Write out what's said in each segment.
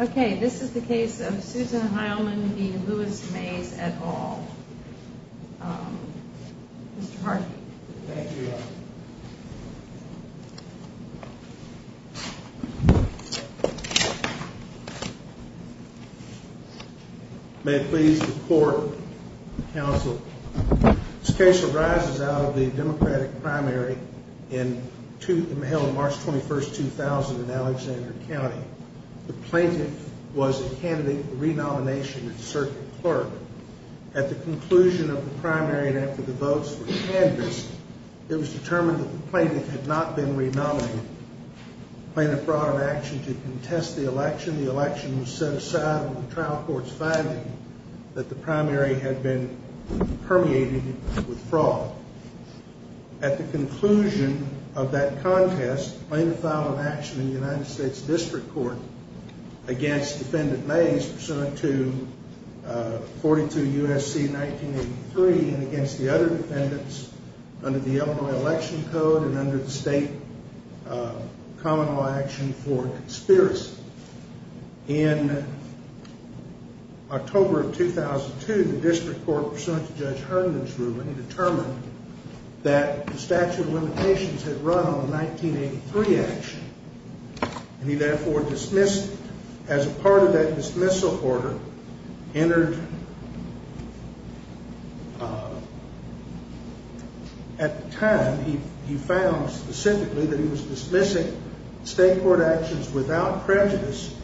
Okay, this is the case of Susan Hileman v. Louis Maze et al. Mr. Harden. Thank you. May it please the court, counsel. This case arises out of the Democratic primary held on March 21, 2000 in Alexander County. The plaintiff was a candidate for renomination at the circuit clerk. At the conclusion of the primary and after the votes were canvassed, it was determined that the plaintiff had not been renominated. The plaintiff brought an action to contest the election. The election was set aside on the trial court's finding that the primary had been permeated with fraud. At the conclusion of that contest, the plaintiff filed an action in the United States District Court against defendant Maze, pursuant to 42 U.S.C. 1983, and against the other defendants under the Illinois Election Code and under the state common law action for conspiracy. In October of 2002, the District Court, pursuant to Judge Herndon's ruling, determined that the statute of limitations had run on the 1983 action. And he therefore dismissed it. As a part of that dismissal order entered at the time, he found specifically that he was dismissing state court actions without prejudice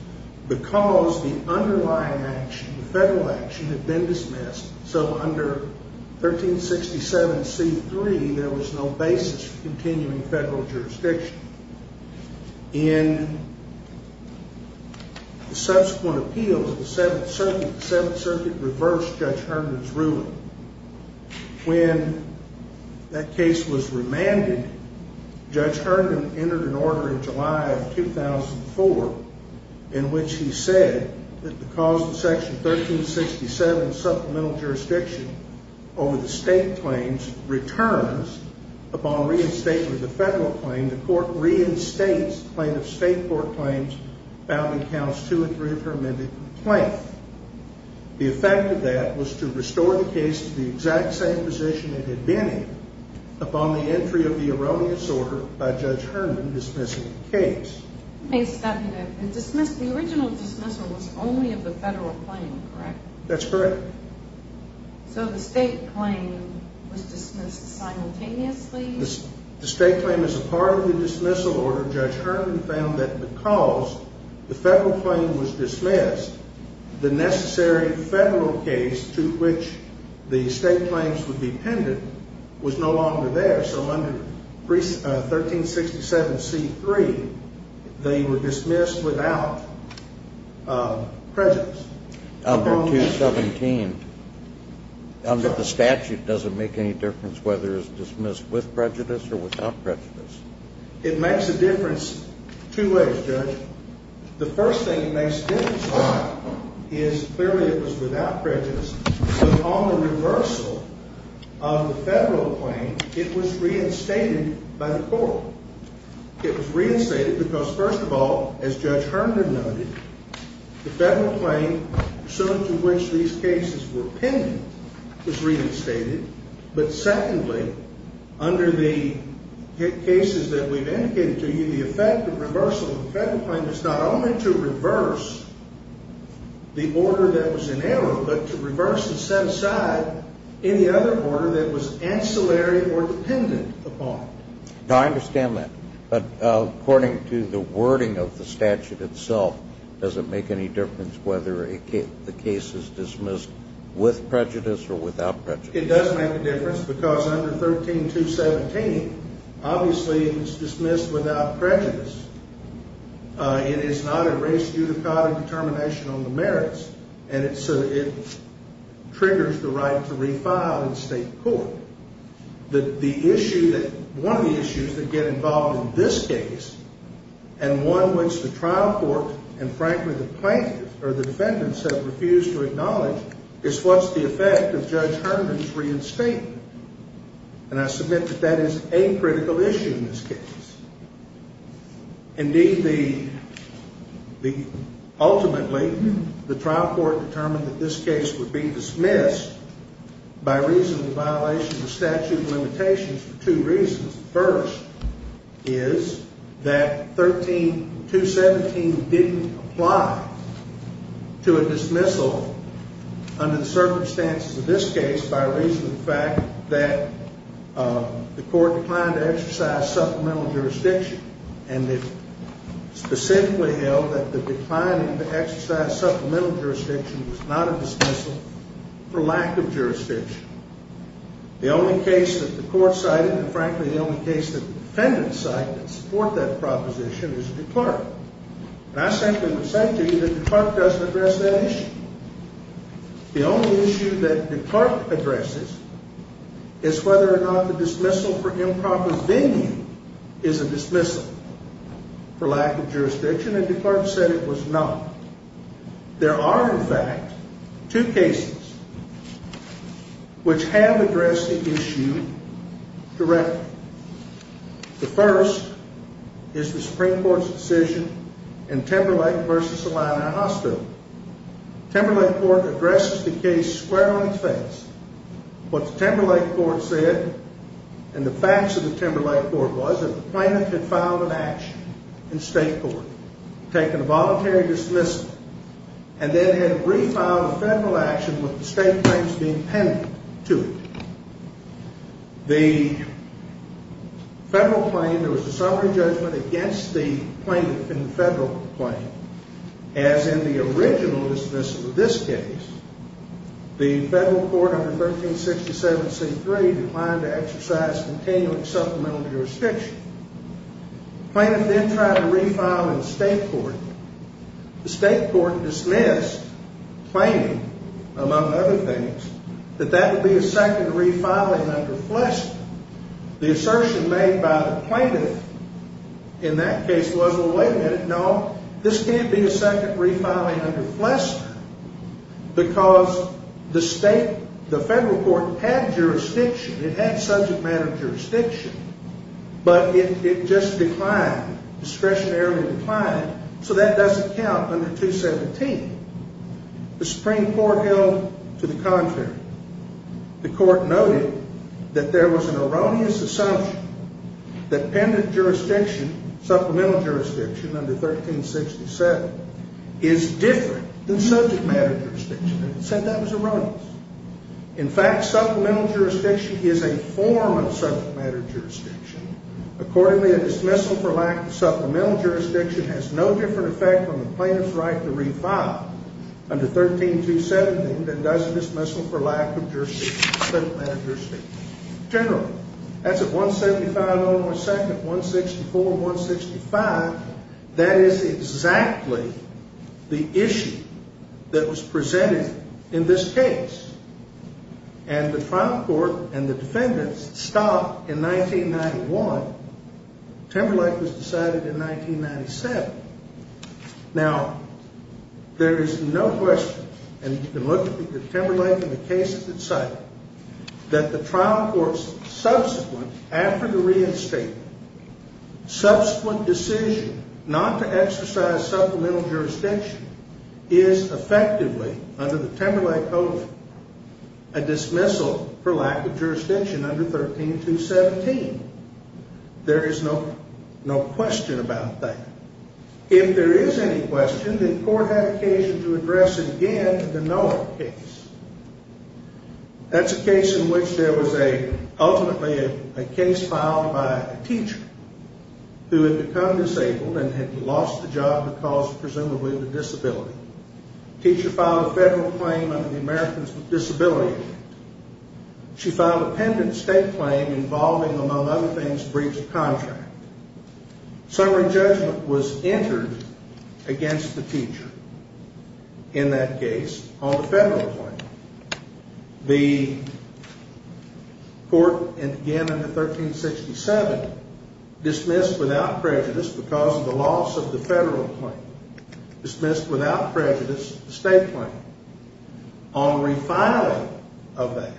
because the underlying action, the federal action, had been dismissed. So under 1367C3, there was no basis for continuing federal jurisdiction. In subsequent appeals, the Seventh Circuit reversed Judge Herndon's ruling. When that case was remanded, Judge Herndon entered an order in July of 2004 in which he said that the cause of Section 1367, supplemental jurisdiction over the state claims, returns upon reinstatement of the federal claim. The court reinstates the plaintiff's state court claims found in Counts 2 and 3 of her amended complaint. The effect of that was to restore the case to the exact same position it had been in upon the entry of the erroneous order by Judge Herndon dismissing the case. The original dismissal was only of the federal claim, correct? That's correct. So the state claim was dismissed simultaneously? The state claim is a part of the dismissal order. Judge Herndon found that because the federal claim was dismissed, the necessary federal case to which the state claims would be pended was no longer there. So under 1367C3, they were dismissed without prejudice. Under 217, under the statute, does it make any difference whether it's dismissed with prejudice or without prejudice? It makes a difference two ways, Judge. The first thing it makes a difference on is clearly it was without prejudice, but on the reversal of the federal claim, it was reinstated by the court. It was reinstated because, first of all, as Judge Herndon noted, the federal claim to which these cases were pending was reinstated. But secondly, under the cases that we've indicated to you, the effect of reversal of the federal claim is not only to reverse the order that was in error, but to reverse and set aside any other order that was ancillary or dependent upon it. Now, I understand that. But according to the wording of the statute itself, does it make any difference whether the case is dismissed with prejudice or without prejudice? It does make a difference because under 13217, obviously, it was dismissed without prejudice. It is not a res judicata determination on the merits, and it triggers the right to refile in state court. One of the issues that get involved in this case and one which the trial court and, frankly, the plaintiffs or the defendants have refused to acknowledge is what's the effect of Judge Herndon's reinstatement. And I submit that that is a critical issue in this case. Indeed, ultimately, the trial court determined that this case would be dismissed by reason of violation of the statute of limitations for two reasons. The first is that 13217 didn't apply to a dismissal under the circumstances of this case by reason of the fact that the court declined to exercise supplemental jurisdiction. And it specifically held that the declining to exercise supplemental jurisdiction was not a dismissal for lack of jurisdiction. The only case that the court cited and, frankly, the only case that the defendants cite that support that proposition is DeClarke. And I simply would say to you that DeClarke doesn't address that issue. The only issue that DeClarke addresses is whether or not the dismissal for improper venue is a dismissal for lack of jurisdiction, and DeClarke said it was not. There are, in fact, two cases which have addressed the issue directly. The first is the Supreme Court's decision in Timberlake v. Solano Hospital. Timberlake Court addresses the case squarely faced. What the Timberlake Court said and the facts of the Timberlake Court was that the plaintiff had filed an action in state court, taken a voluntary dismissal, and then had refiled a federal action with the state claims being pendent to it. The federal claim, there was a summary judgment against the plaintiff in the federal claim. As in the original dismissal of this case, the federal court under 1367c3 declined to exercise continuing supplemental jurisdiction. The plaintiff then tried to refile in state court. The state court dismissed claiming, among other things, that that would be a second refiling under Flester. The assertion made by the plaintiff in that case was, well, wait a minute, no, this can't be a second refiling under Flester because the federal court had jurisdiction. It had subject matter jurisdiction, but it just declined, discretionarily declined, so that doesn't count under 217. The Supreme Court held to the contrary. The court noted that there was an erroneous assumption that pendent jurisdiction, supplemental jurisdiction under 1367, is different than subject matter jurisdiction. It said that was erroneous. In fact, supplemental jurisdiction is a form of subject matter jurisdiction. Accordingly, a dismissal for lack of supplemental jurisdiction has no different effect on the plaintiff's right to refile under 13217 than does a dismissal for lack of jurisdiction, subject matter jurisdiction. Generally, that's at 175 on our second, 164, 165. That is exactly the issue that was presented in this case, and the trial court and the defendants stopped in 1991. Timberlake was decided in 1997. Now, there is no question, and you can look at the Timberlake and the cases it cited, that the trial court's subsequent, after the reinstatement, subsequent decision not to exercise supplemental jurisdiction is effectively, under the Timberlake Code, a dismissal for lack of jurisdiction under 13217. There is no question about that. If there is any question, the court had occasion to address it again in the Noah case. That's a case in which there was ultimately a case filed by a teacher who had become disabled and had lost the job because, presumably, of a disability. The teacher filed a federal claim under the Americans with Disabilities Act. She filed a pendant state claim involving, among other things, a breach of contract. Summary judgment was entered against the teacher in that case on the federal claim. The court, and again under 1367, dismissed without prejudice, because of the loss of the federal claim, dismissed without prejudice the state claim. On refiling of that,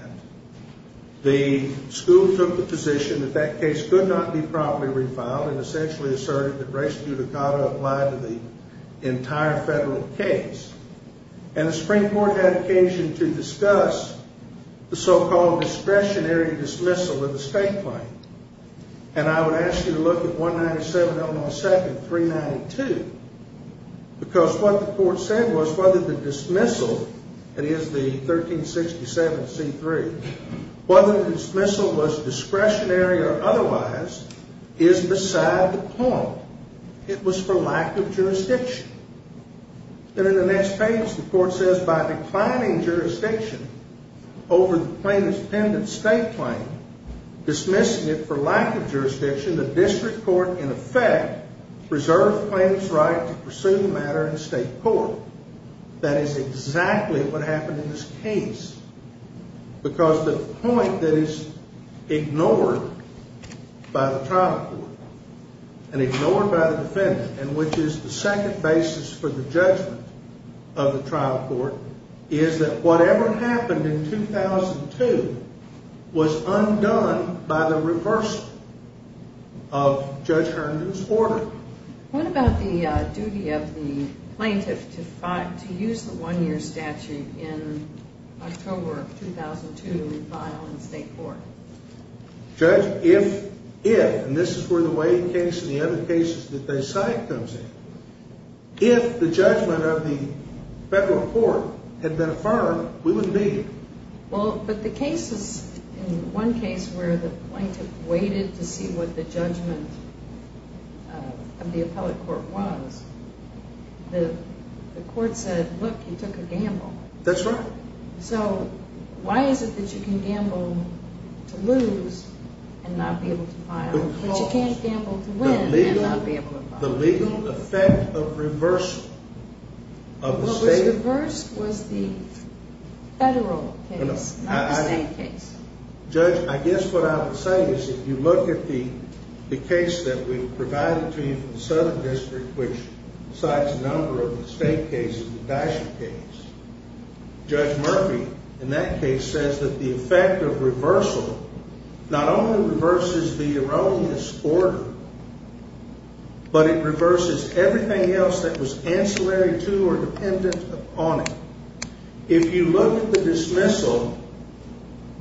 the school took the position that that case could not be promptly refiled and essentially asserted that res judicata applied to the entire federal case. And the Supreme Court had occasion to discuss the so-called discretionary dismissal of the state claim. And I would ask you to look at 197-002-392, because what the court said was whether the dismissal, that is the 1367-C-3, whether the dismissal was discretionary or otherwise is beside the point. It was for lack of jurisdiction. Then in the next page, the court says, By declining jurisdiction over the plaintiff's pendant state claim, dismissing it for lack of jurisdiction, the district court, in effect, preserved the plaintiff's right to pursue the matter in state court. That is exactly what happened in this case. Because the point that is ignored by the trial court and ignored by the defendant, and which is the second basis for the judgment of the trial court, is that whatever happened in 2002 was undone by the reversal of Judge Herndon's order. Well, what about the duty of the plaintiff to use the one-year statute in October of 2002 to refile in state court? Judge, if, and this is where the Wade case and the other cases that they cite comes in, if the judgment of the federal court had been affirmed, we wouldn't be here. Well, but the cases, in one case where the plaintiff waited to see what the judgment of the appellate court was, the court said, look, you took a gamble. That's right. So why is it that you can gamble to lose and not be able to file? But you can't gamble to win and not be able to file. The legal effect of reversal of the state. The reversed was the federal case, not the state case. Judge, I guess what I would say is if you look at the case that we provided to you from the Southern District, which cites a number of the state cases, the Dasher case, Judge Murphy in that case says that the effect of reversal not only reverses the erroneous order, but it reverses everything else that was ancillary to or dependent upon it. If you look at the dismissal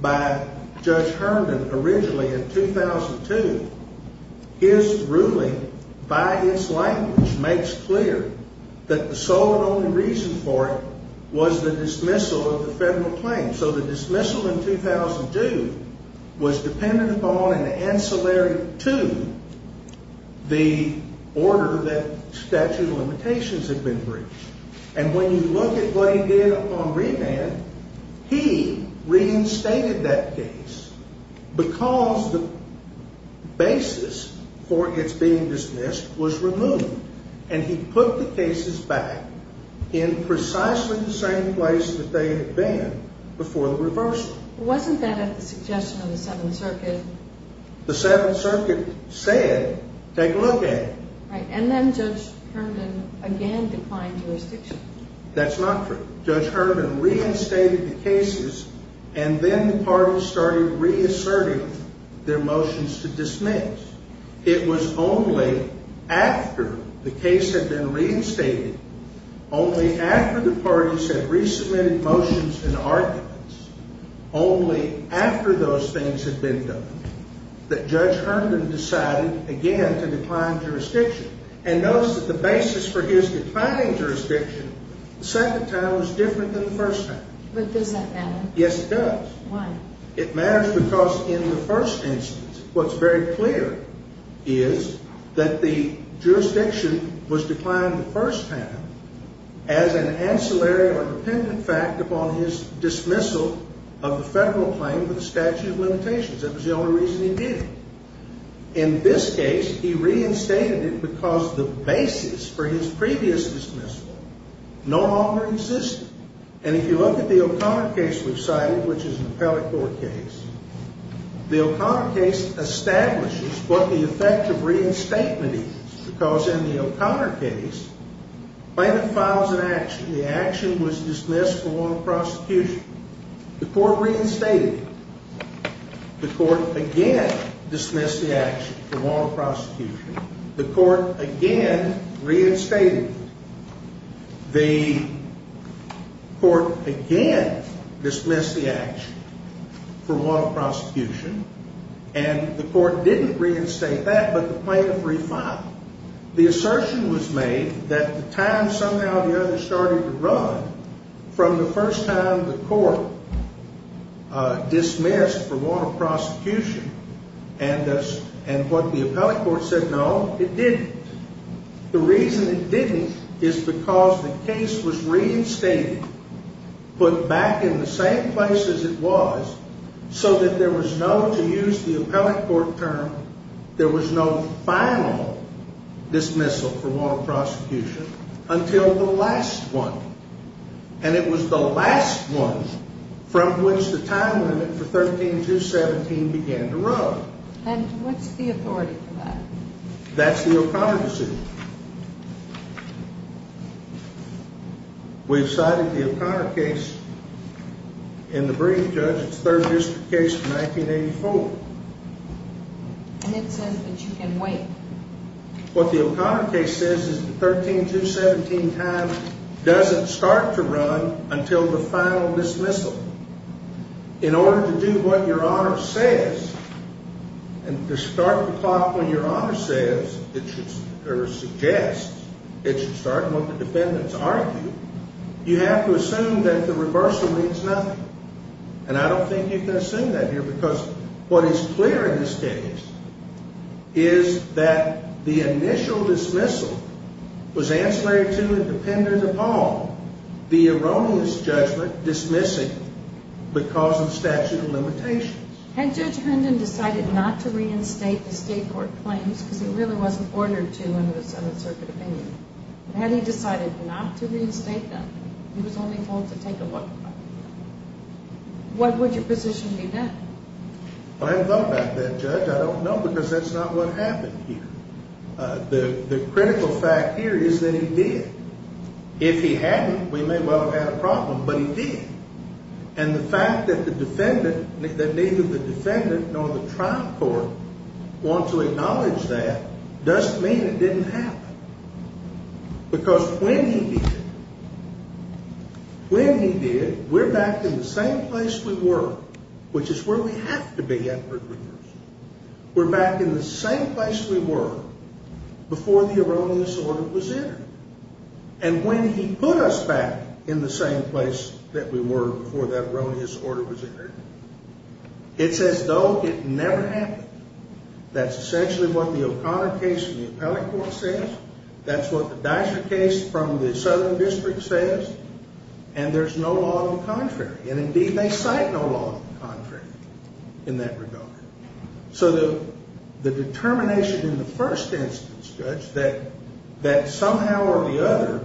by Judge Herman originally in 2002, his ruling by its language makes clear that the sole and only reason for it was the dismissal of the federal claim. So the dismissal in 2002 was dependent upon and ancillary to the order that statute of limitations had been breached. And when you look at what he did on remand, he reinstated that case because the basis for its being dismissed was removed. And he put the cases back in precisely the same place that they had been before the reversal. Wasn't that at the suggestion of the Seventh Circuit? The Seventh Circuit said, take a look at it. And then Judge Herman again declined jurisdiction. That's not true. Judge Herman reinstated the cases, and then the parties started reasserting their motions to dismiss. It was only after the case had been reinstated, only after the parties had resubmitted motions and arguments, only after those things had been done, that Judge Herman decided again to decline jurisdiction. And notice that the basis for his declining jurisdiction the second time was different than the first time. But does that matter? Yes, it does. Why? It matters because in the first instance, what's very clear is that the jurisdiction was declined the first time as an ancillary or dependent fact upon his dismissal of the federal claim to the statute of limitations. That was the only reason he did it. In this case, he reinstated it because the basis for his previous dismissal no longer existed. And if you look at the O'Connor case we've cited, which is an appellate court case, the O'Connor case establishes what the effect of reinstatement is because in the O'Connor case, when it files an action, the action was dismissed for moral prosecution. The court reinstated it. The court again dismissed the action for moral prosecution. The court again reinstated it. The court again dismissed the action for moral prosecution. And the court didn't reinstate that, but the plaintiff refiled it. The assertion was made that the time somehow or the other started to run from the first time the court dismissed for moral prosecution and what the appellate court said, no, it didn't. The reason it didn't is because the case was reinstated, put back in the same place as it was, so that there was no, to use the appellate court term, there was no final dismissal for moral prosecution until the last one. And it was the last one from which the time limit for 13-17 began to run. That's the O'Connor decision. We've cited the O'Connor case in the brief, Judge. It's third district case from 1984. And it says that you can wait. What the O'Connor case says is the 13-17 time doesn't start to run until the final dismissal. In order to do what your Honor says, and to start the clock when your Honor says, or suggests, it should start when the defendants argue, you have to assume that the reversal means nothing. And I don't think you can assume that here because what is clear in this case is that the initial dismissal was ancillary to and dependent upon the erroneous judgment dismissing because of statute of limitations. Had Judge Hendon decided not to reinstate the state court claims, because it really wasn't ordered to in the 7th Circuit opinion, had he decided not to reinstate them, he was only told to take a look. What would your position be then? I haven't thought about that, Judge. I don't know because that's not what happened here. The critical fact here is that he did. If he hadn't, we may well have had a problem, but he did. And the fact that the defendant, that neither the defendant nor the trial court want to acknowledge that doesn't mean it didn't happen. Because when he did, when he did, we're back in the same place we were, which is where we have to be after a reversal. We're back in the same place we were before the erroneous order was entered. And when he put us back in the same place that we were before that erroneous order was entered, it's as though it never happened. That's essentially what the O'Connor case from the appellate court says. That's what the Dyser case from the Southern District says. And there's no law to the contrary. And indeed, they cite no law to the contrary in that regard. So the determination in the first instance, Judge, that somehow or the other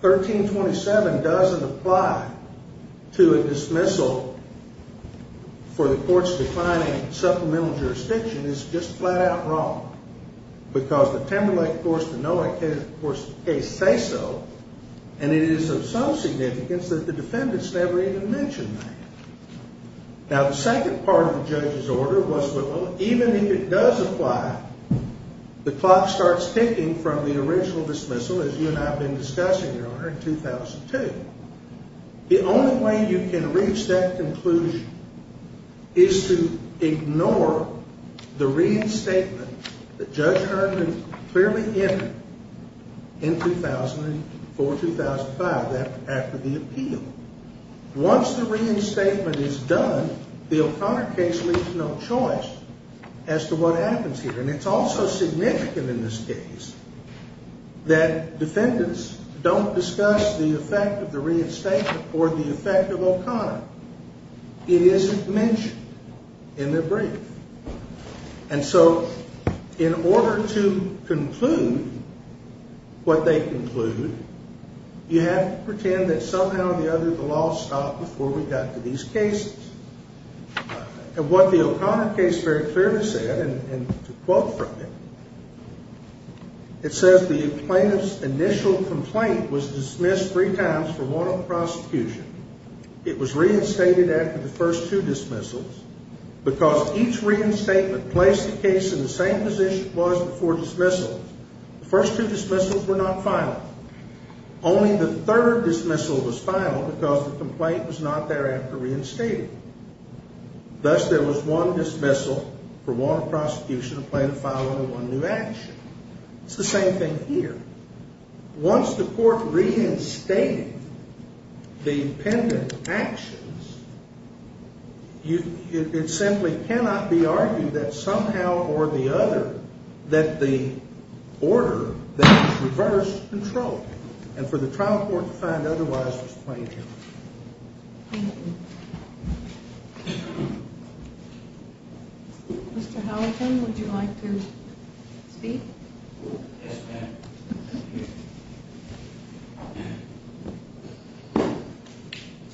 1327 doesn't apply to a dismissal for the court's declining supplemental jurisdiction is just flat-out wrong. Because the Timberlake, of course, the Noack case say so. And it is of some significance that the defendants never even mentioned that. Now, the second part of the judge's order was, well, even if it does apply, the clock starts ticking from the original dismissal, as you and I have been discussing, Your Honor, in 2002. The only way you can reach that conclusion is to ignore the reinstatement that Judge Herman clearly entered in 2004-2005, after the appeal. Once the reinstatement is done, the O'Connor case leaves no choice as to what happens here. And it's also significant in this case that defendants don't discuss the effect of the reinstatement or the effect of O'Connor. It isn't mentioned in the brief. And so in order to conclude what they conclude, you have to pretend that somehow or the other the law stopped before we got to these cases. And what the O'Connor case very clearly said, and to quote from it, it says the plaintiff's initial complaint was dismissed three times for want of prosecution. It was reinstated after the first two dismissals because each reinstatement placed the case in the same position it was before dismissals. The first two dismissals were not final. Only the third dismissal was final because the complaint was not thereafter reinstated. Thus, there was one dismissal for want of prosecution, a plaintiff filing a one-new action. It's the same thing here. Once the court reinstated the defendant's actions, it simply cannot be argued that somehow or the other that the order that was reversed controlled. And for the trial court to find otherwise was plaintiff. Thank you. Mr. Halligan, would you like to speak? Yes, ma'am.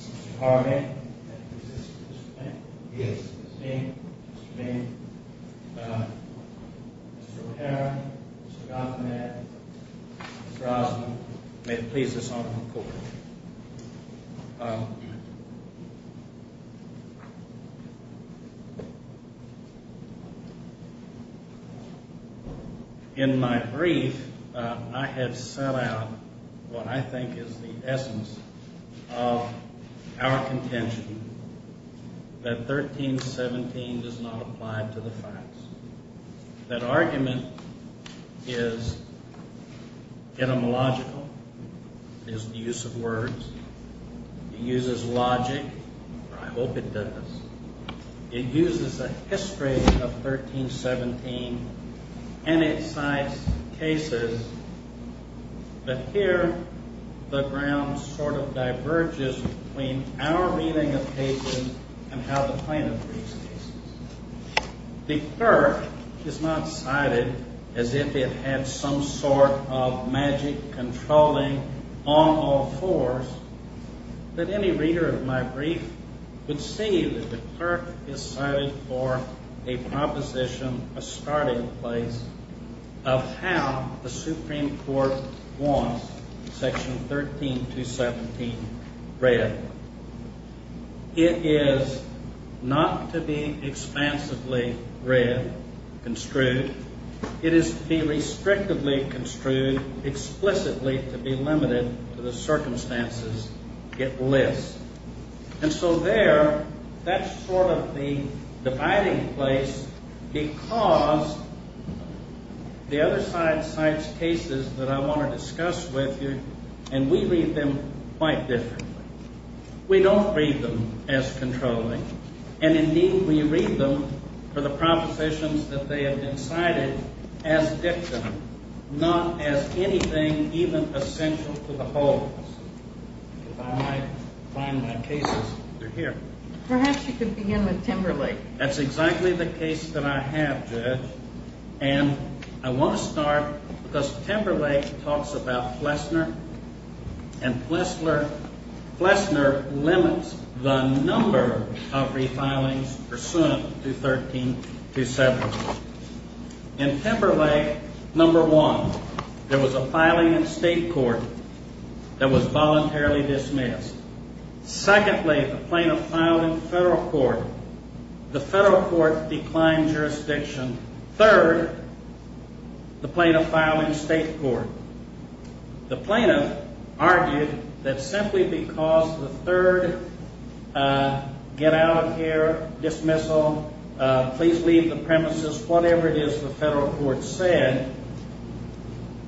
Mr. Harman. Yes. Mr. Bain. Mr. Bain. Yes. Mr. O'Hara. Yes. Mr. Gothman. Yes. Mr. Osmond. Yes. Thank you, Justice Otter. In my brief, I have set out what I think is the essence of our contention that 1317 does not apply to the facts. That argument is etymological. It is the use of words. It uses logic, or I hope it does. It uses a history of 1317, and it cites cases, but here the ground sort of diverges between our reading of cases and how the plaintiff reads cases. The clerk is not cited as if it had some sort of magic controlling on all fours. But any reader of my brief would see that the clerk is cited for a proposition, a starting place, of how the Supreme Court wants Section 13217 read. It is not to be expansively read, construed. It is to be restrictively construed, explicitly to be limited to the circumstances it lists. And so there, that's sort of the dividing place because the other side cites cases that I want to discuss with you, and we read them quite differently. We don't read them as controlling, and indeed we read them for the propositions that they have been cited as dictum, not as anything even essential to the whole. If I might find my cases, they're here. Perhaps you could begin with Timberlake. That's exactly the case that I have, Judge. And I want to start because Timberlake talks about Flessner, and Flessner limits the number of refilings pursuant to 13217. In Timberlake, number one, there was a filing in state court that was voluntarily dismissed. Secondly, the plaintiff filed in federal court. The federal court declined jurisdiction. Third, the plaintiff filed in state court. The plaintiff argued that simply because the third get out of here dismissal, please leave the premises, whatever it is the federal court said,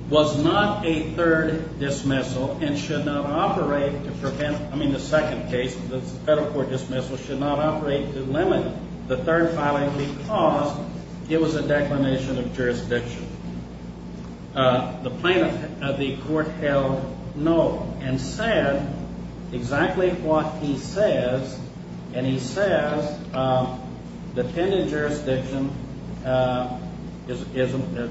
was not a third dismissal and should not operate to prevent, I mean the second case, the federal court dismissal, should not operate to limit the third filing because it was a declination of jurisdiction. The plaintiff of the court held no and said exactly what he says. And he says the pending jurisdiction is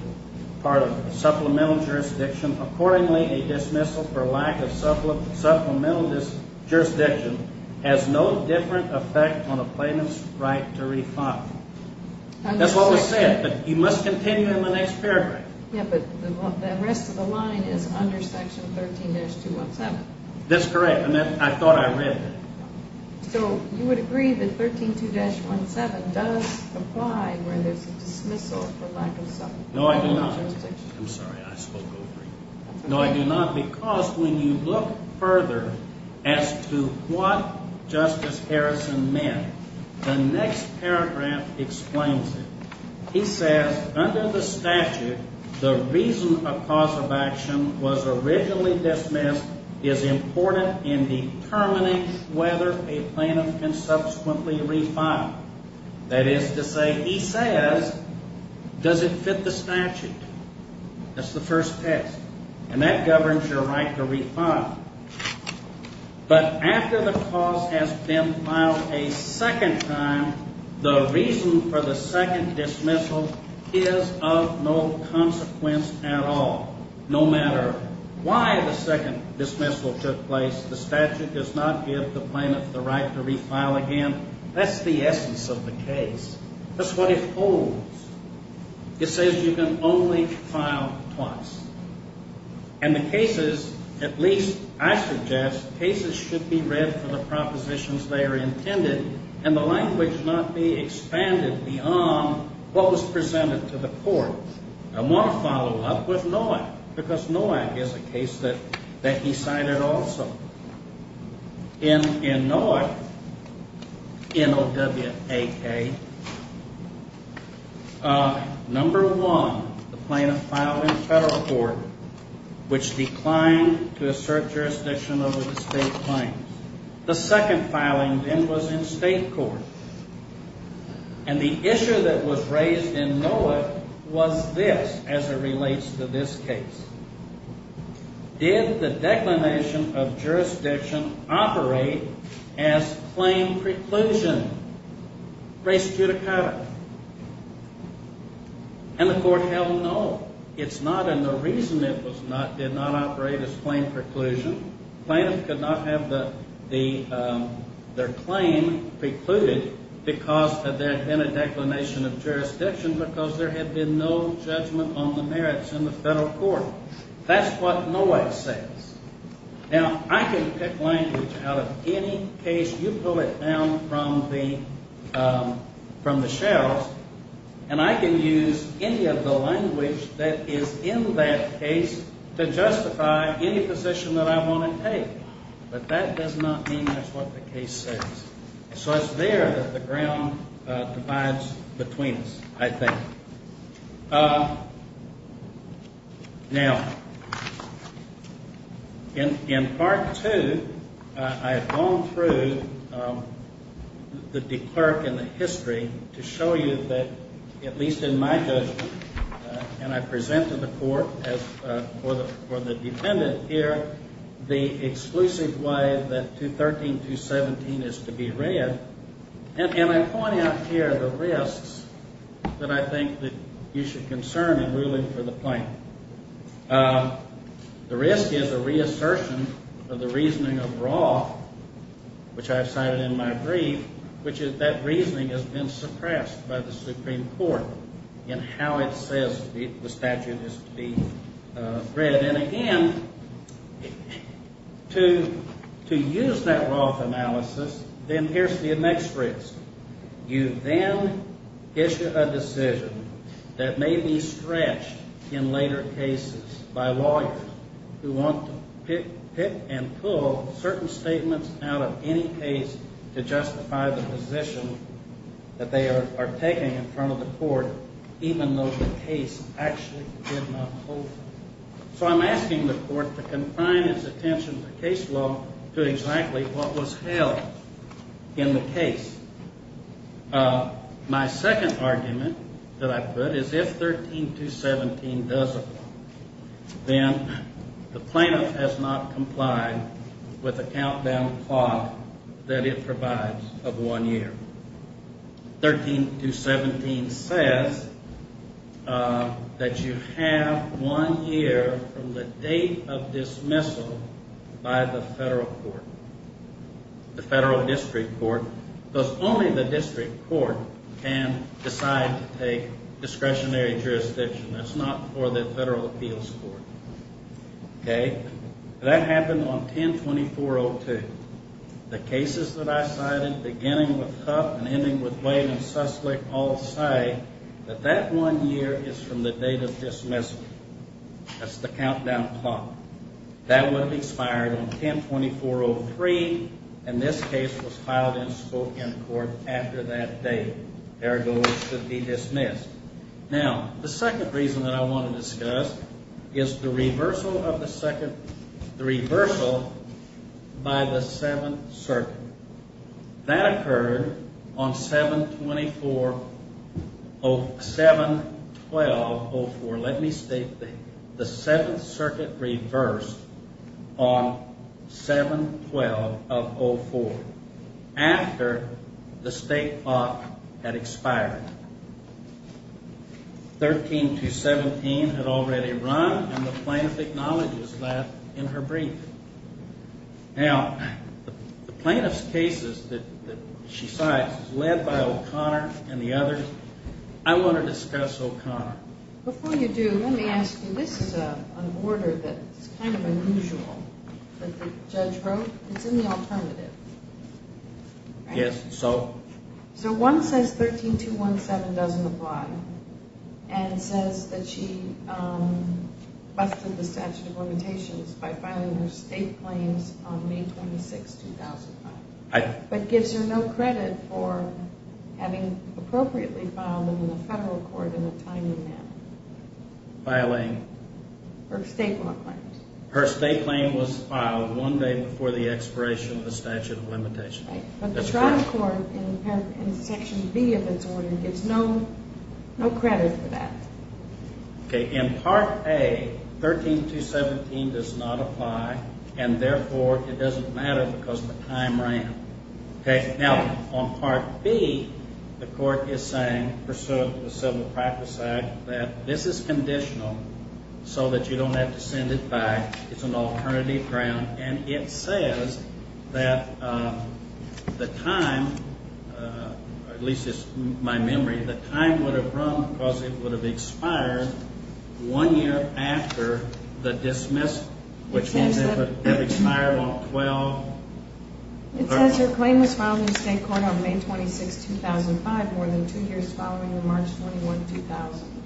part of supplemental jurisdiction. Accordingly, a dismissal for lack of supplemental jurisdiction has no different effect on a plaintiff's right to refile. That's what was said, but you must continue in the next paragraph. Yeah, but the rest of the line is under section 13-217. That's correct, and I thought I read that. So you would agree that 13-217 does apply where there's a dismissal for lack of supplemental jurisdiction? No, I do not. I'm sorry, I spoke over you. No, I do not, because when you look further as to what Justice Harrison meant, the next paragraph explains it. He says, under the statute, the reason a cause of action was originally dismissed is important in determining whether a plaintiff can subsequently refile. That is to say, he says, does it fit the statute? That's the first text, and that governs your right to refile. But after the cause has been filed a second time, the reason for the second dismissal is of no consequence at all. No matter why the second dismissal took place, the statute does not give the plaintiff the right to refile again. That's the essence of the case. That's what it holds. It says you can only file twice. And the cases, at least I suggest, cases should be read for the propositions they are intended, and the language not be expanded beyond what was presented to the court. I want to follow up with Nowak, because Nowak is a case that he cited also. In Nowak, N-O-W-A-K, number one, the plaintiff filed in federal court, which declined to assert jurisdiction over the state claims. The second filing then was in state court. And the issue that was raised in Nowak was this, as it relates to this case. Did the declination of jurisdiction operate as claim preclusion? Res judicata. And the court held no. It's not, and the reason it did not operate as claim preclusion, the plaintiff could not have their claim precluded because there had been a declination of jurisdiction, because there had been no judgment on the merits in the federal court. That's what Nowak says. Now, I can pick language out of any case. You pull it down from the shelves, and I can use any of the language that is in that case to justify any position that I want to take. But that does not mean that's what the case says. So it's there that the ground divides between us, I think. Now, in Part 2, I have gone through the declerk and the history to show you that, at least in my judgment, and I presented the court for the defendant here, the exclusive way that 213.217 is to be read. And I point out here the risks that I think that you should concern in ruling for the plaintiff. The risk is a reassertion of the reasoning of Roth, which I have cited in my brief, which is that reasoning has been suppressed by the Supreme Court in how it says the statute is to be read. But then again, to use that Roth analysis, then here's the next risk. You then issue a decision that may be stretched in later cases by lawyers who want to pick and pull certain statements out of any case to justify the position that they are taking in front of the court, even though the case actually did not hold it. So I'm asking the court to confine its attention to case law to exactly what was held in the case. My second argument that I put is if 13.217 does apply, then the plaintiff has not complied with the countdown clock that it provides of one year. 13.217 says that you have one year from the date of dismissal by the federal court, the federal district court, because only the district court can decide to take discretionary jurisdiction. That's not for the federal appeals court. That happened on 10.2402. The cases that I cited, beginning with Huff and ending with Wade and Suslick, all say that that one year is from the date of dismissal. That's the countdown clock. That would have expired on 10.2403, and this case was filed in Spokane Court after that date. Ergo, it should be dismissed. Now, the second reason that I want to discuss is the reversal by the Seventh Circuit. That occurred on 7.12.04. Let me state that. The Seventh Circuit reversed on 7.12.04 after the state clock had expired. 13.217 had already run, and the plaintiff acknowledges that in her brief. Now, the plaintiff's cases that she cites is led by O'Connor and the others. I want to discuss O'Connor. Before you do, let me ask you, this is an order that's kind of unusual that the judge wrote. It's in the alternative. Yes, so? So, one says 13.217 doesn't apply, and says that she busted the statute of limitations by filing her state claims on May 26, 2005. But gives her no credit for having appropriately filed them in a federal court in a timely manner. Filing? Her state law claims. Her state claim was filed one day before the expiration of the statute of limitations. Right, but the trial court in Section B of this order gives no credit for that. Okay, in Part A, 13.217 does not apply, and therefore it doesn't matter because the time ran. Okay, now on Part B, the court is saying, pursuant to the Civil Practice Act, that this is conditional so that you don't have to send it back. It's an alternative ground, and it says that the time, or at least it's my memory, the time would have run because it would have expired one year after the dismissal. Which means it would have expired on 12- It says her claim was filed in state court on May 26, 2005, more than two years following the March 21, 2000.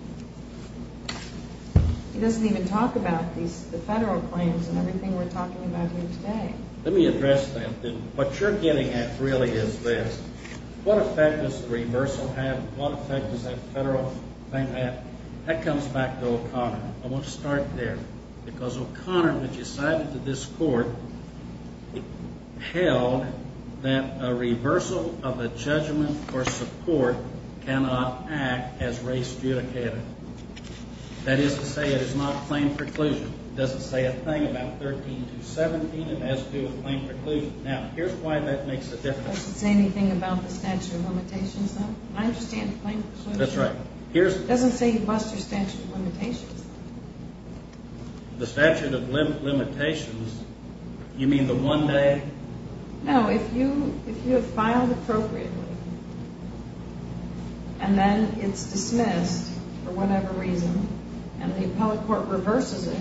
It doesn't even talk about the federal claims and everything we're talking about here today. Let me address that. What you're getting at really is this. What effect does the reversal have? What effect does that federal thing have? Now, I want to start there, because O'Connor, which is cited to this court, held that a reversal of a judgment for support cannot act as race judicative. That is to say, it is not claim preclusion. It doesn't say a thing about 13.217, and it has to do with claim preclusion. Now, here's why that makes a difference. It doesn't say anything about the statute of limitations, though? I understand the claim preclusion. That's right. Here's- It doesn't say you muster statute of limitations, though. The statute of limitations, you mean the one day- No, if you have filed appropriately, and then it's dismissed for whatever reason, and the appellate court reverses it,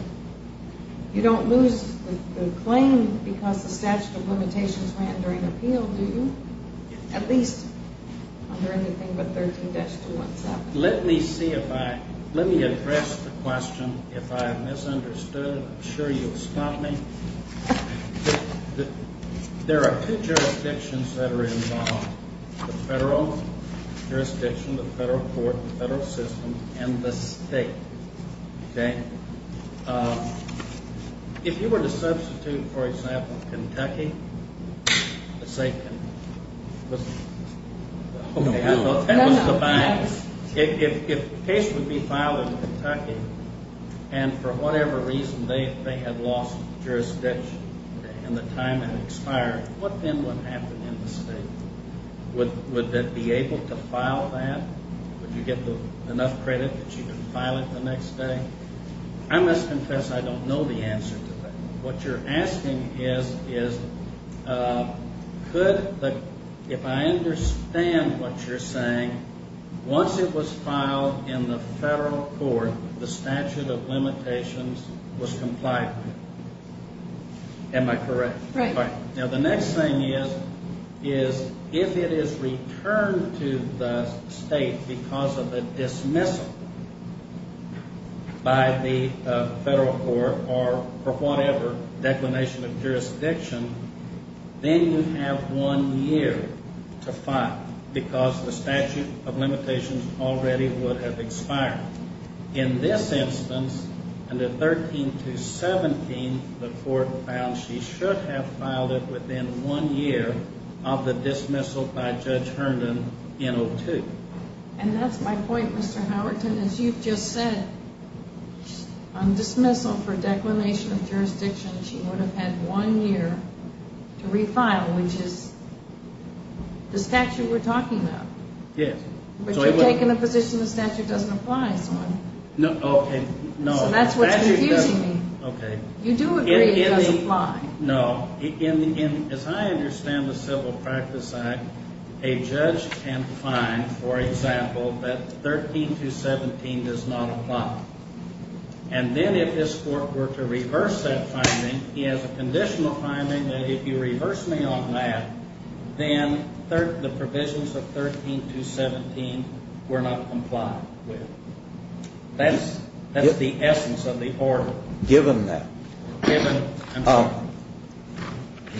you don't lose the claim because the statute of limitations ran during appeal, do you? At least under anything but 13.217. Let me see if I- let me address the question. If I have misunderstood, I'm sure you'll stop me. There are two jurisdictions that are involved, the federal jurisdiction, the federal court, the federal system, and the state. Okay. If you were to substitute, for example, Kentucky, let's say- Okay, I thought that was the bias. If a case would be filed in Kentucky, and for whatever reason, they had lost jurisdiction, and the time had expired, what then would happen in the state? Would they be able to file that? Would you get enough credit that you could file it the next day? I must confess I don't know the answer to that. What you're asking is, if I understand what you're saying, once it was filed in the federal court, the statute of limitations was complied with. Am I correct? Right. Now, the next thing is, if it is returned to the state because of a dismissal by the federal court, or whatever, declination of jurisdiction, then you have one year to file, because the statute of limitations already would have expired. In this instance, under 13217, the court found she should have filed it within one year of the dismissal by Judge Herndon in 02. And that's my point, Mr. Howerton. As you've just said, on dismissal for declination of jurisdiction, she would have had one year to refile, which is the statute we're talking about. Yes. But you've taken a position the statute doesn't apply, so that's what's confusing me. Okay. You do agree it doesn't apply. No. As I understand the Civil Practice Act, a judge can find, for example, that 13217 does not apply. And then if this court were to reverse that finding, he has a conditional finding that if you reverse me on that, then the provisions of 13217 were not complied with. That's the essence of the order. Given that,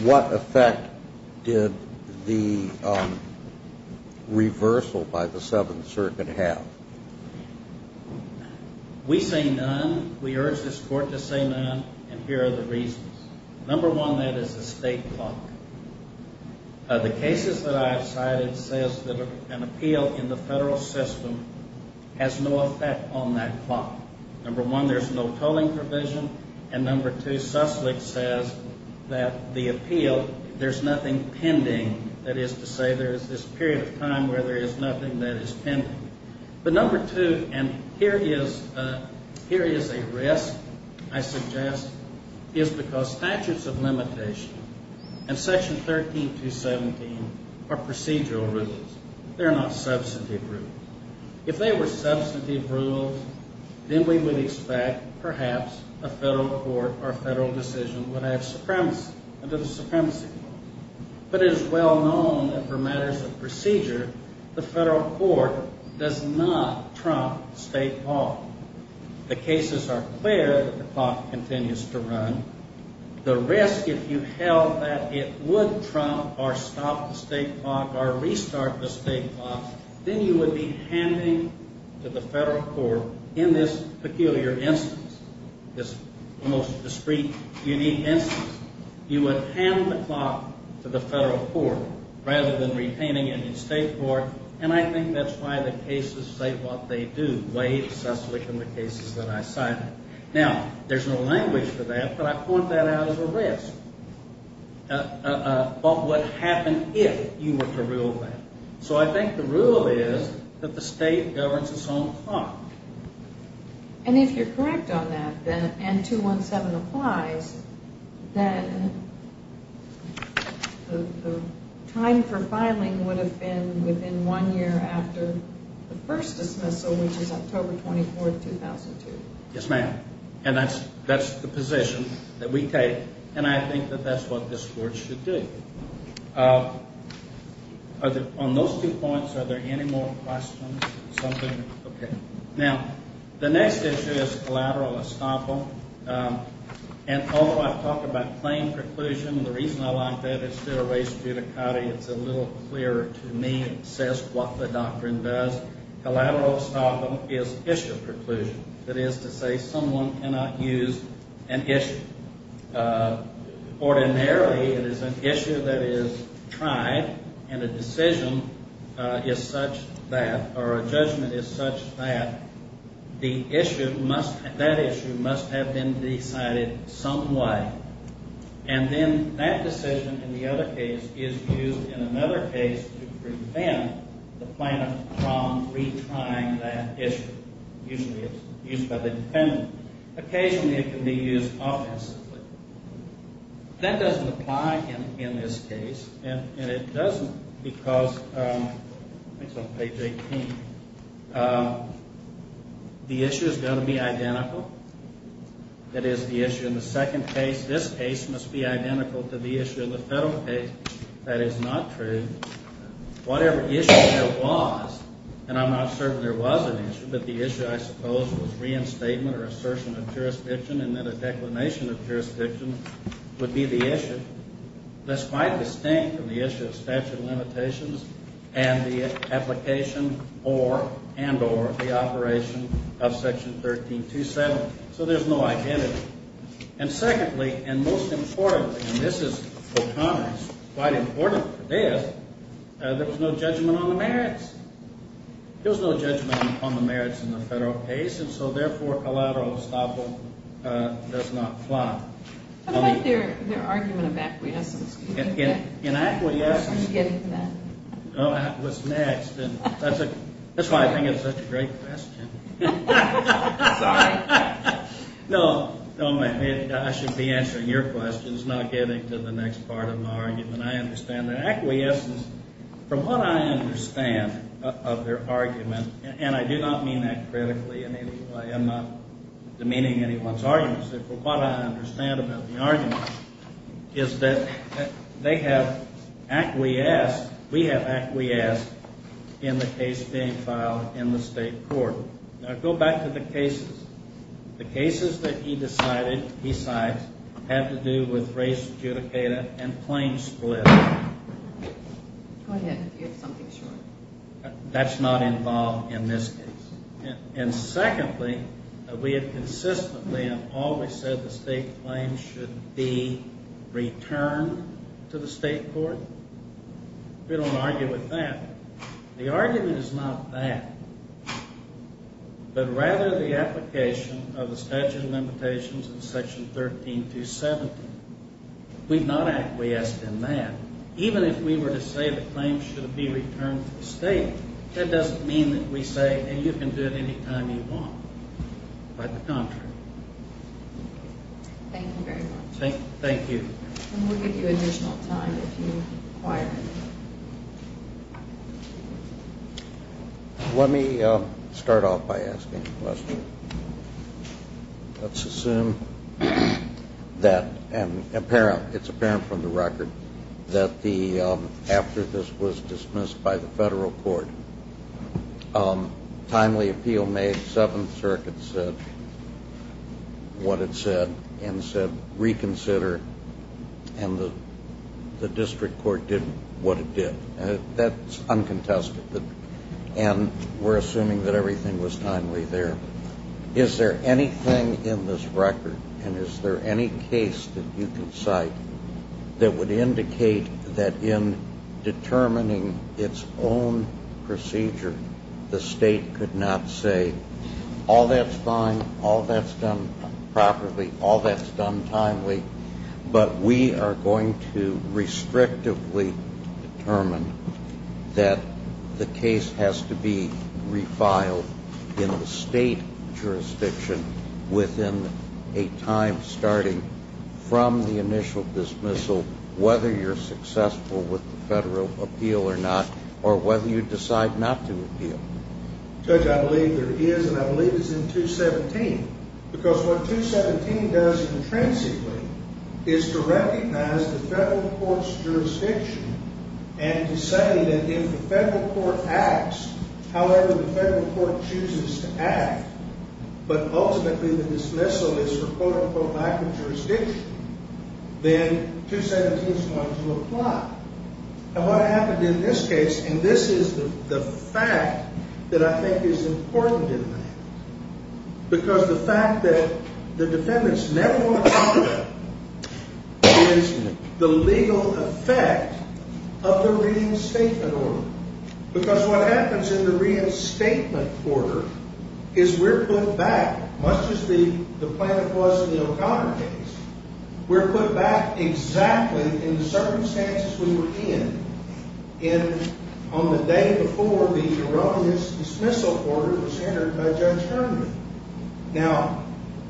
what effect did the reversal by the Seventh Circuit have? We say none. We urge this court to say none, and here are the reasons. Number one, that is a state clock. The cases that I've cited says that an appeal in the federal system has no effect on that clock. Number one, there's no tolling provision. And number two, Sussex says that the appeal, there's nothing pending. That is to say there is this period of time where there is nothing that is pending. But number two, and here is a risk, I suggest, is because statutes of limitation and Section 13217 are procedural rules. They're not substantive rules. If they were substantive rules, then we would expect, perhaps, a federal court or a federal decision would have supremacy under the Supremacy Clause. But it is well known that for matters of procedure, the federal court does not trump state law. The cases are clear that the clock continues to run. The risk, if you held that it would trump or stop the state clock or restart the state clock, then you would be handing to the federal court, in this peculiar instance, this almost discreet, unique instance, you would hand the clock to the federal court rather than retaining it in state court. And I think that's why the cases say what they do, way excessively from the cases that I cited. Now, there's no language for that, but I point that out as a risk of what happened if you were to rule that. So I think the rule is that the state governs its own clock. And if you're correct on that, then, and 217 applies, then the time for filing would have been within one year after the first dismissal, which is October 24, 2002. Yes, ma'am. And that's the position that we take. And I think that that's what this court should do. On those two points, are there any more questions? Something? Okay. Now, the next issue is collateral estoppel. And although I've talked about plain preclusion and the reason I like that, it's still a race judicata. It's a little clearer to me. It says what the doctrine does. Collateral estoppel is issue preclusion. That is to say someone cannot use an issue. Ordinarily, it is an issue that is tried, and a decision is such that, or a judgment is such that, the issue must, that issue must have been decided some way. And then that decision, in the other case, is used in another case to prevent the plaintiff from retrying that issue. Usually it's used by the defendant. Occasionally it can be used offensively. That doesn't apply in this case, and it doesn't because, I think it's on page 18, the issue is going to be identical. It is the issue in the second case. This case must be identical to the issue in the federal case. That is not true. Whatever issue there was, and I'm not certain there was an issue, but the issue, I suppose, was reinstatement or assertion of jurisdiction, and then a declination of jurisdiction would be the issue. That's quite distinct from the issue of statute of limitations and the application or, and or, the operation of Section 1327. So there's no identity. And secondly, and most importantly, and this is, for Congress, quite important for this, there was no judgment on the merits. There was no judgment on the merits in the federal case, and so therefore collateral estoppel does not apply. What about their, their argument of acquiescence? In, in, in acquiescence. I'm getting to that. Oh, I was next, and that's a, that's why I think it's such a great question. Sorry. No, no, I should be answering your questions, not getting to the next part of my argument. I understand that acquiescence, from what I understand of their argument, and I do not mean that critically in any way. I'm not demeaning anyone's arguments, but what I understand about the argument is that they have acquiesced, we have acquiesced in the case being filed in the state court. Now, go back to the cases. The cases that he decided, he cites, had to do with race judicata and claim split. Go ahead. You have something short. That's not involved in this case. And secondly, we have consistently and always said the state claims should be returned to the state court. We don't argue with that. The argument is not that, but rather the application of the statute of limitations in section 13-270. We've not acquiesced in that. Even if we were to say the claims should be returned to the state, that doesn't mean that we say, hey, you can do it any time you want. By the contrary. Thank you very much. Thank you. And we'll give you additional time if you require anything. Let me start off by asking a question. Let's assume that it's apparent from the record that after this was dismissed by the federal court, timely appeal made, Seventh Circuit said what it said and said reconsider. And the district court did what it did. That's uncontested. And we're assuming that everything was timely there. Is there anything in this record and is there any case that you can cite that would indicate that in determining its own procedure, the state could not say all that's fine, all that's done properly, all that's done timely, but we are going to restrictively determine that the case has to be refiled in the state jurisdiction within a time starting from the initial dismissal, whether you're successful with the federal appeal or not, or whether you decide not to appeal? Judge, I believe there is, and I believe it's in 217. Because what 217 does intrinsically is to recognize the federal court's jurisdiction and to say that if the federal court acts however the federal court chooses to act, but ultimately the dismissal is for, quote, unquote, lack of jurisdiction, then 217 is going to apply. And what happened in this case, and this is the fact that I think is important in that, because the fact that the defendants never want to talk about is the legal effect of the reinstatement order. Because what happens in the reinstatement order is we're put back, much as the plaintiff was in the O'Connor case, we're put back exactly in the circumstances we were in. On the day before, the erroneous dismissal order was entered by Judge Herman. Now,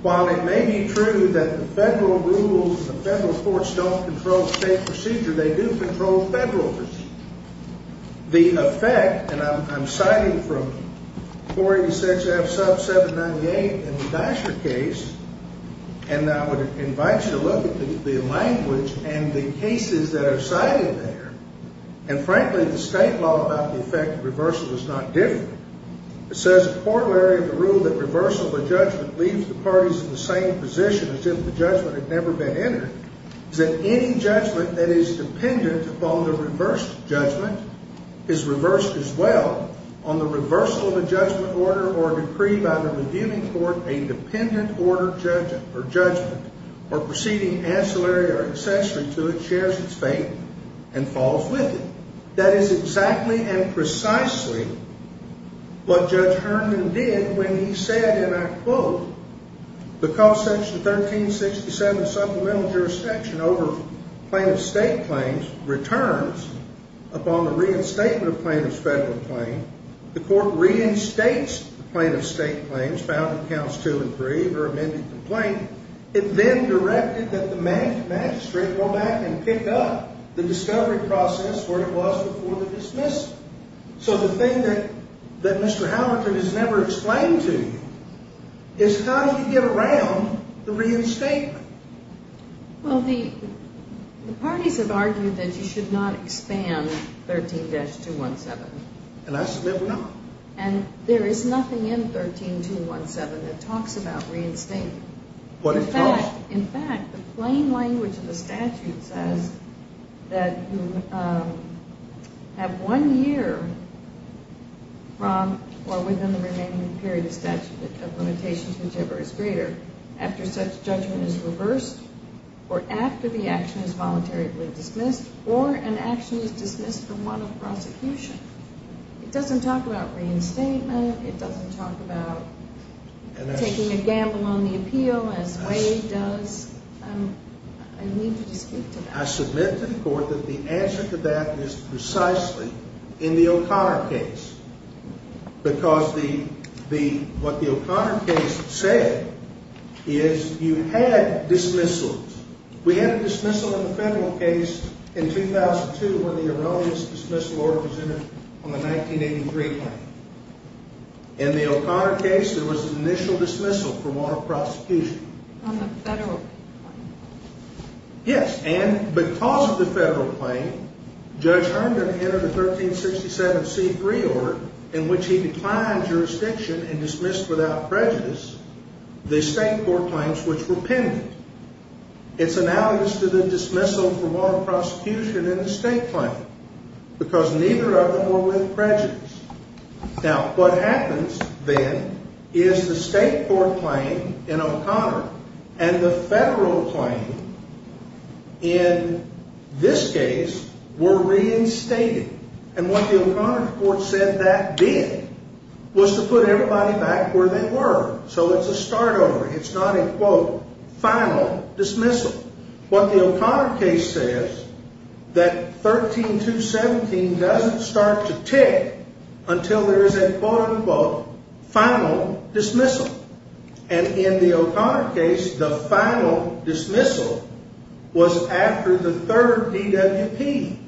while it may be true that the federal rules and the federal courts don't control state procedure, they do control federal procedure. The effect, and I'm citing from 486F sub 798 in the Dasher case, and I would invite you to look at the language and the cases that are cited there, and frankly the state law about the effect of reversal is not different. It says, a corollary of the rule that reversal of a judgment leaves the parties in the same position as if the judgment had never been entered, is that any judgment that is dependent upon the reversed judgment is reversed as well. On the reversal of a judgment order or decree by the reviewing court, a dependent order judgment or proceeding ancillary or accessory to it shares its fate and falls with it. That is exactly and precisely what Judge Herman did when he said, and I quote, The cost section of 1367 supplemental jurisdiction over plaintiff's state claims returns upon the reinstatement of plaintiff's federal claim. The court reinstates the plaintiff's state claims found in counts two and three or amended to the plaintiff. It then directed that the magistrate go back and pick up the discovery process where it was before the dismissal. So the thing that Mr. Howerton has never explained to you is how do you get around the reinstatement? Well, the parties have argued that you should not expand 13-217. And I submit we're not. And there is nothing in 13-217 that talks about reinstatement. But it does. In fact, the plain language of the statute says that you have one year from or within the remaining period of statute of limitations, whichever is greater, after such judgment is reversed or after the action is voluntarily dismissed or an action is dismissed from one of prosecution. It doesn't talk about reinstatement. It doesn't talk about taking a gamble on the appeal as Wade does. I need you to speak to that. I submit to the court that the answer to that is precisely in the O'Connor case. Because what the O'Connor case said is you had dismissals. We had a dismissal in the federal case in 2002 when the erroneous dismissal order was entered on the 1983 claim. In the O'Connor case, there was an initial dismissal from one of prosecution. On the federal claim? Yes. And because of the federal claim, Judge Herndon entered a 1367C3 order in which he declined jurisdiction and dismissed without prejudice the state court claims which were pending. It's analogous to the dismissal from one of prosecution in the state claim. Because neither of them were with prejudice. Now, what happens then is the state court claim in O'Connor and the federal claim in this case were reinstated. And what the O'Connor court said that did was to put everybody back where they were. So it's a start over. It's not a, quote, final dismissal. What the O'Connor case says that 13217 doesn't start to tick until there is a, quote, unquote, final dismissal. And in the O'Connor case, the final dismissal was after the third DWP.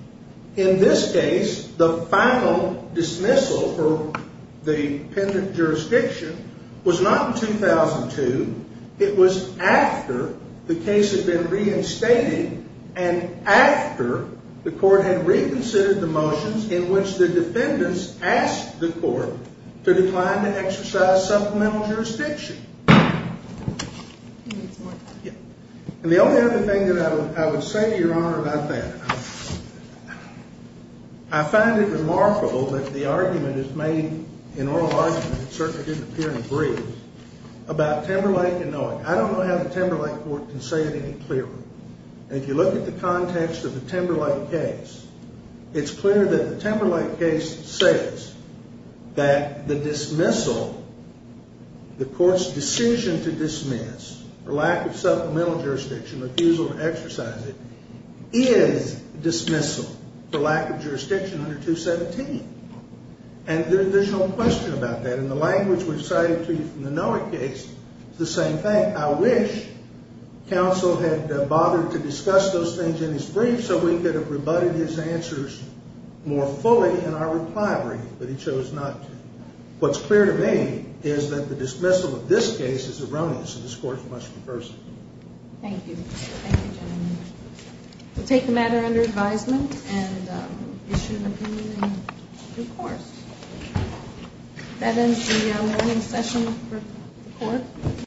In this case, the final dismissal for the pending jurisdiction was not in 2002. It was after the case had been reinstated and after the court had reconsidered the motions in which the defendants asked the court to decline to exercise supplemental jurisdiction. And the only other thing that I would say, Your Honor, about that. I find it remarkable that the argument is made, an oral argument, it certainly didn't appear in the brief, about Timberlake and Noack. I don't know how the Timberlake court can say it any clearer. And if you look at the context of the Timberlake case, it's clear that the Timberlake case says that the dismissal, the court's decision to dismiss, or lack of supplemental jurisdiction, refusal to exercise it, is dismissal for lack of jurisdiction under 217. And there's no question about that. In the language we've cited to you from the Noack case, it's the same thing. I wish counsel had bothered to discuss those things in his brief so we could have rebutted his answers more fully in our reply brief, but he chose not to. What's clear to me is that the dismissal of this case is erroneous, and this court must reverse it. Thank you. Thank you, gentlemen. We'll take the matter under advisement and issue an opinion in due course. That ends the morning session for the court.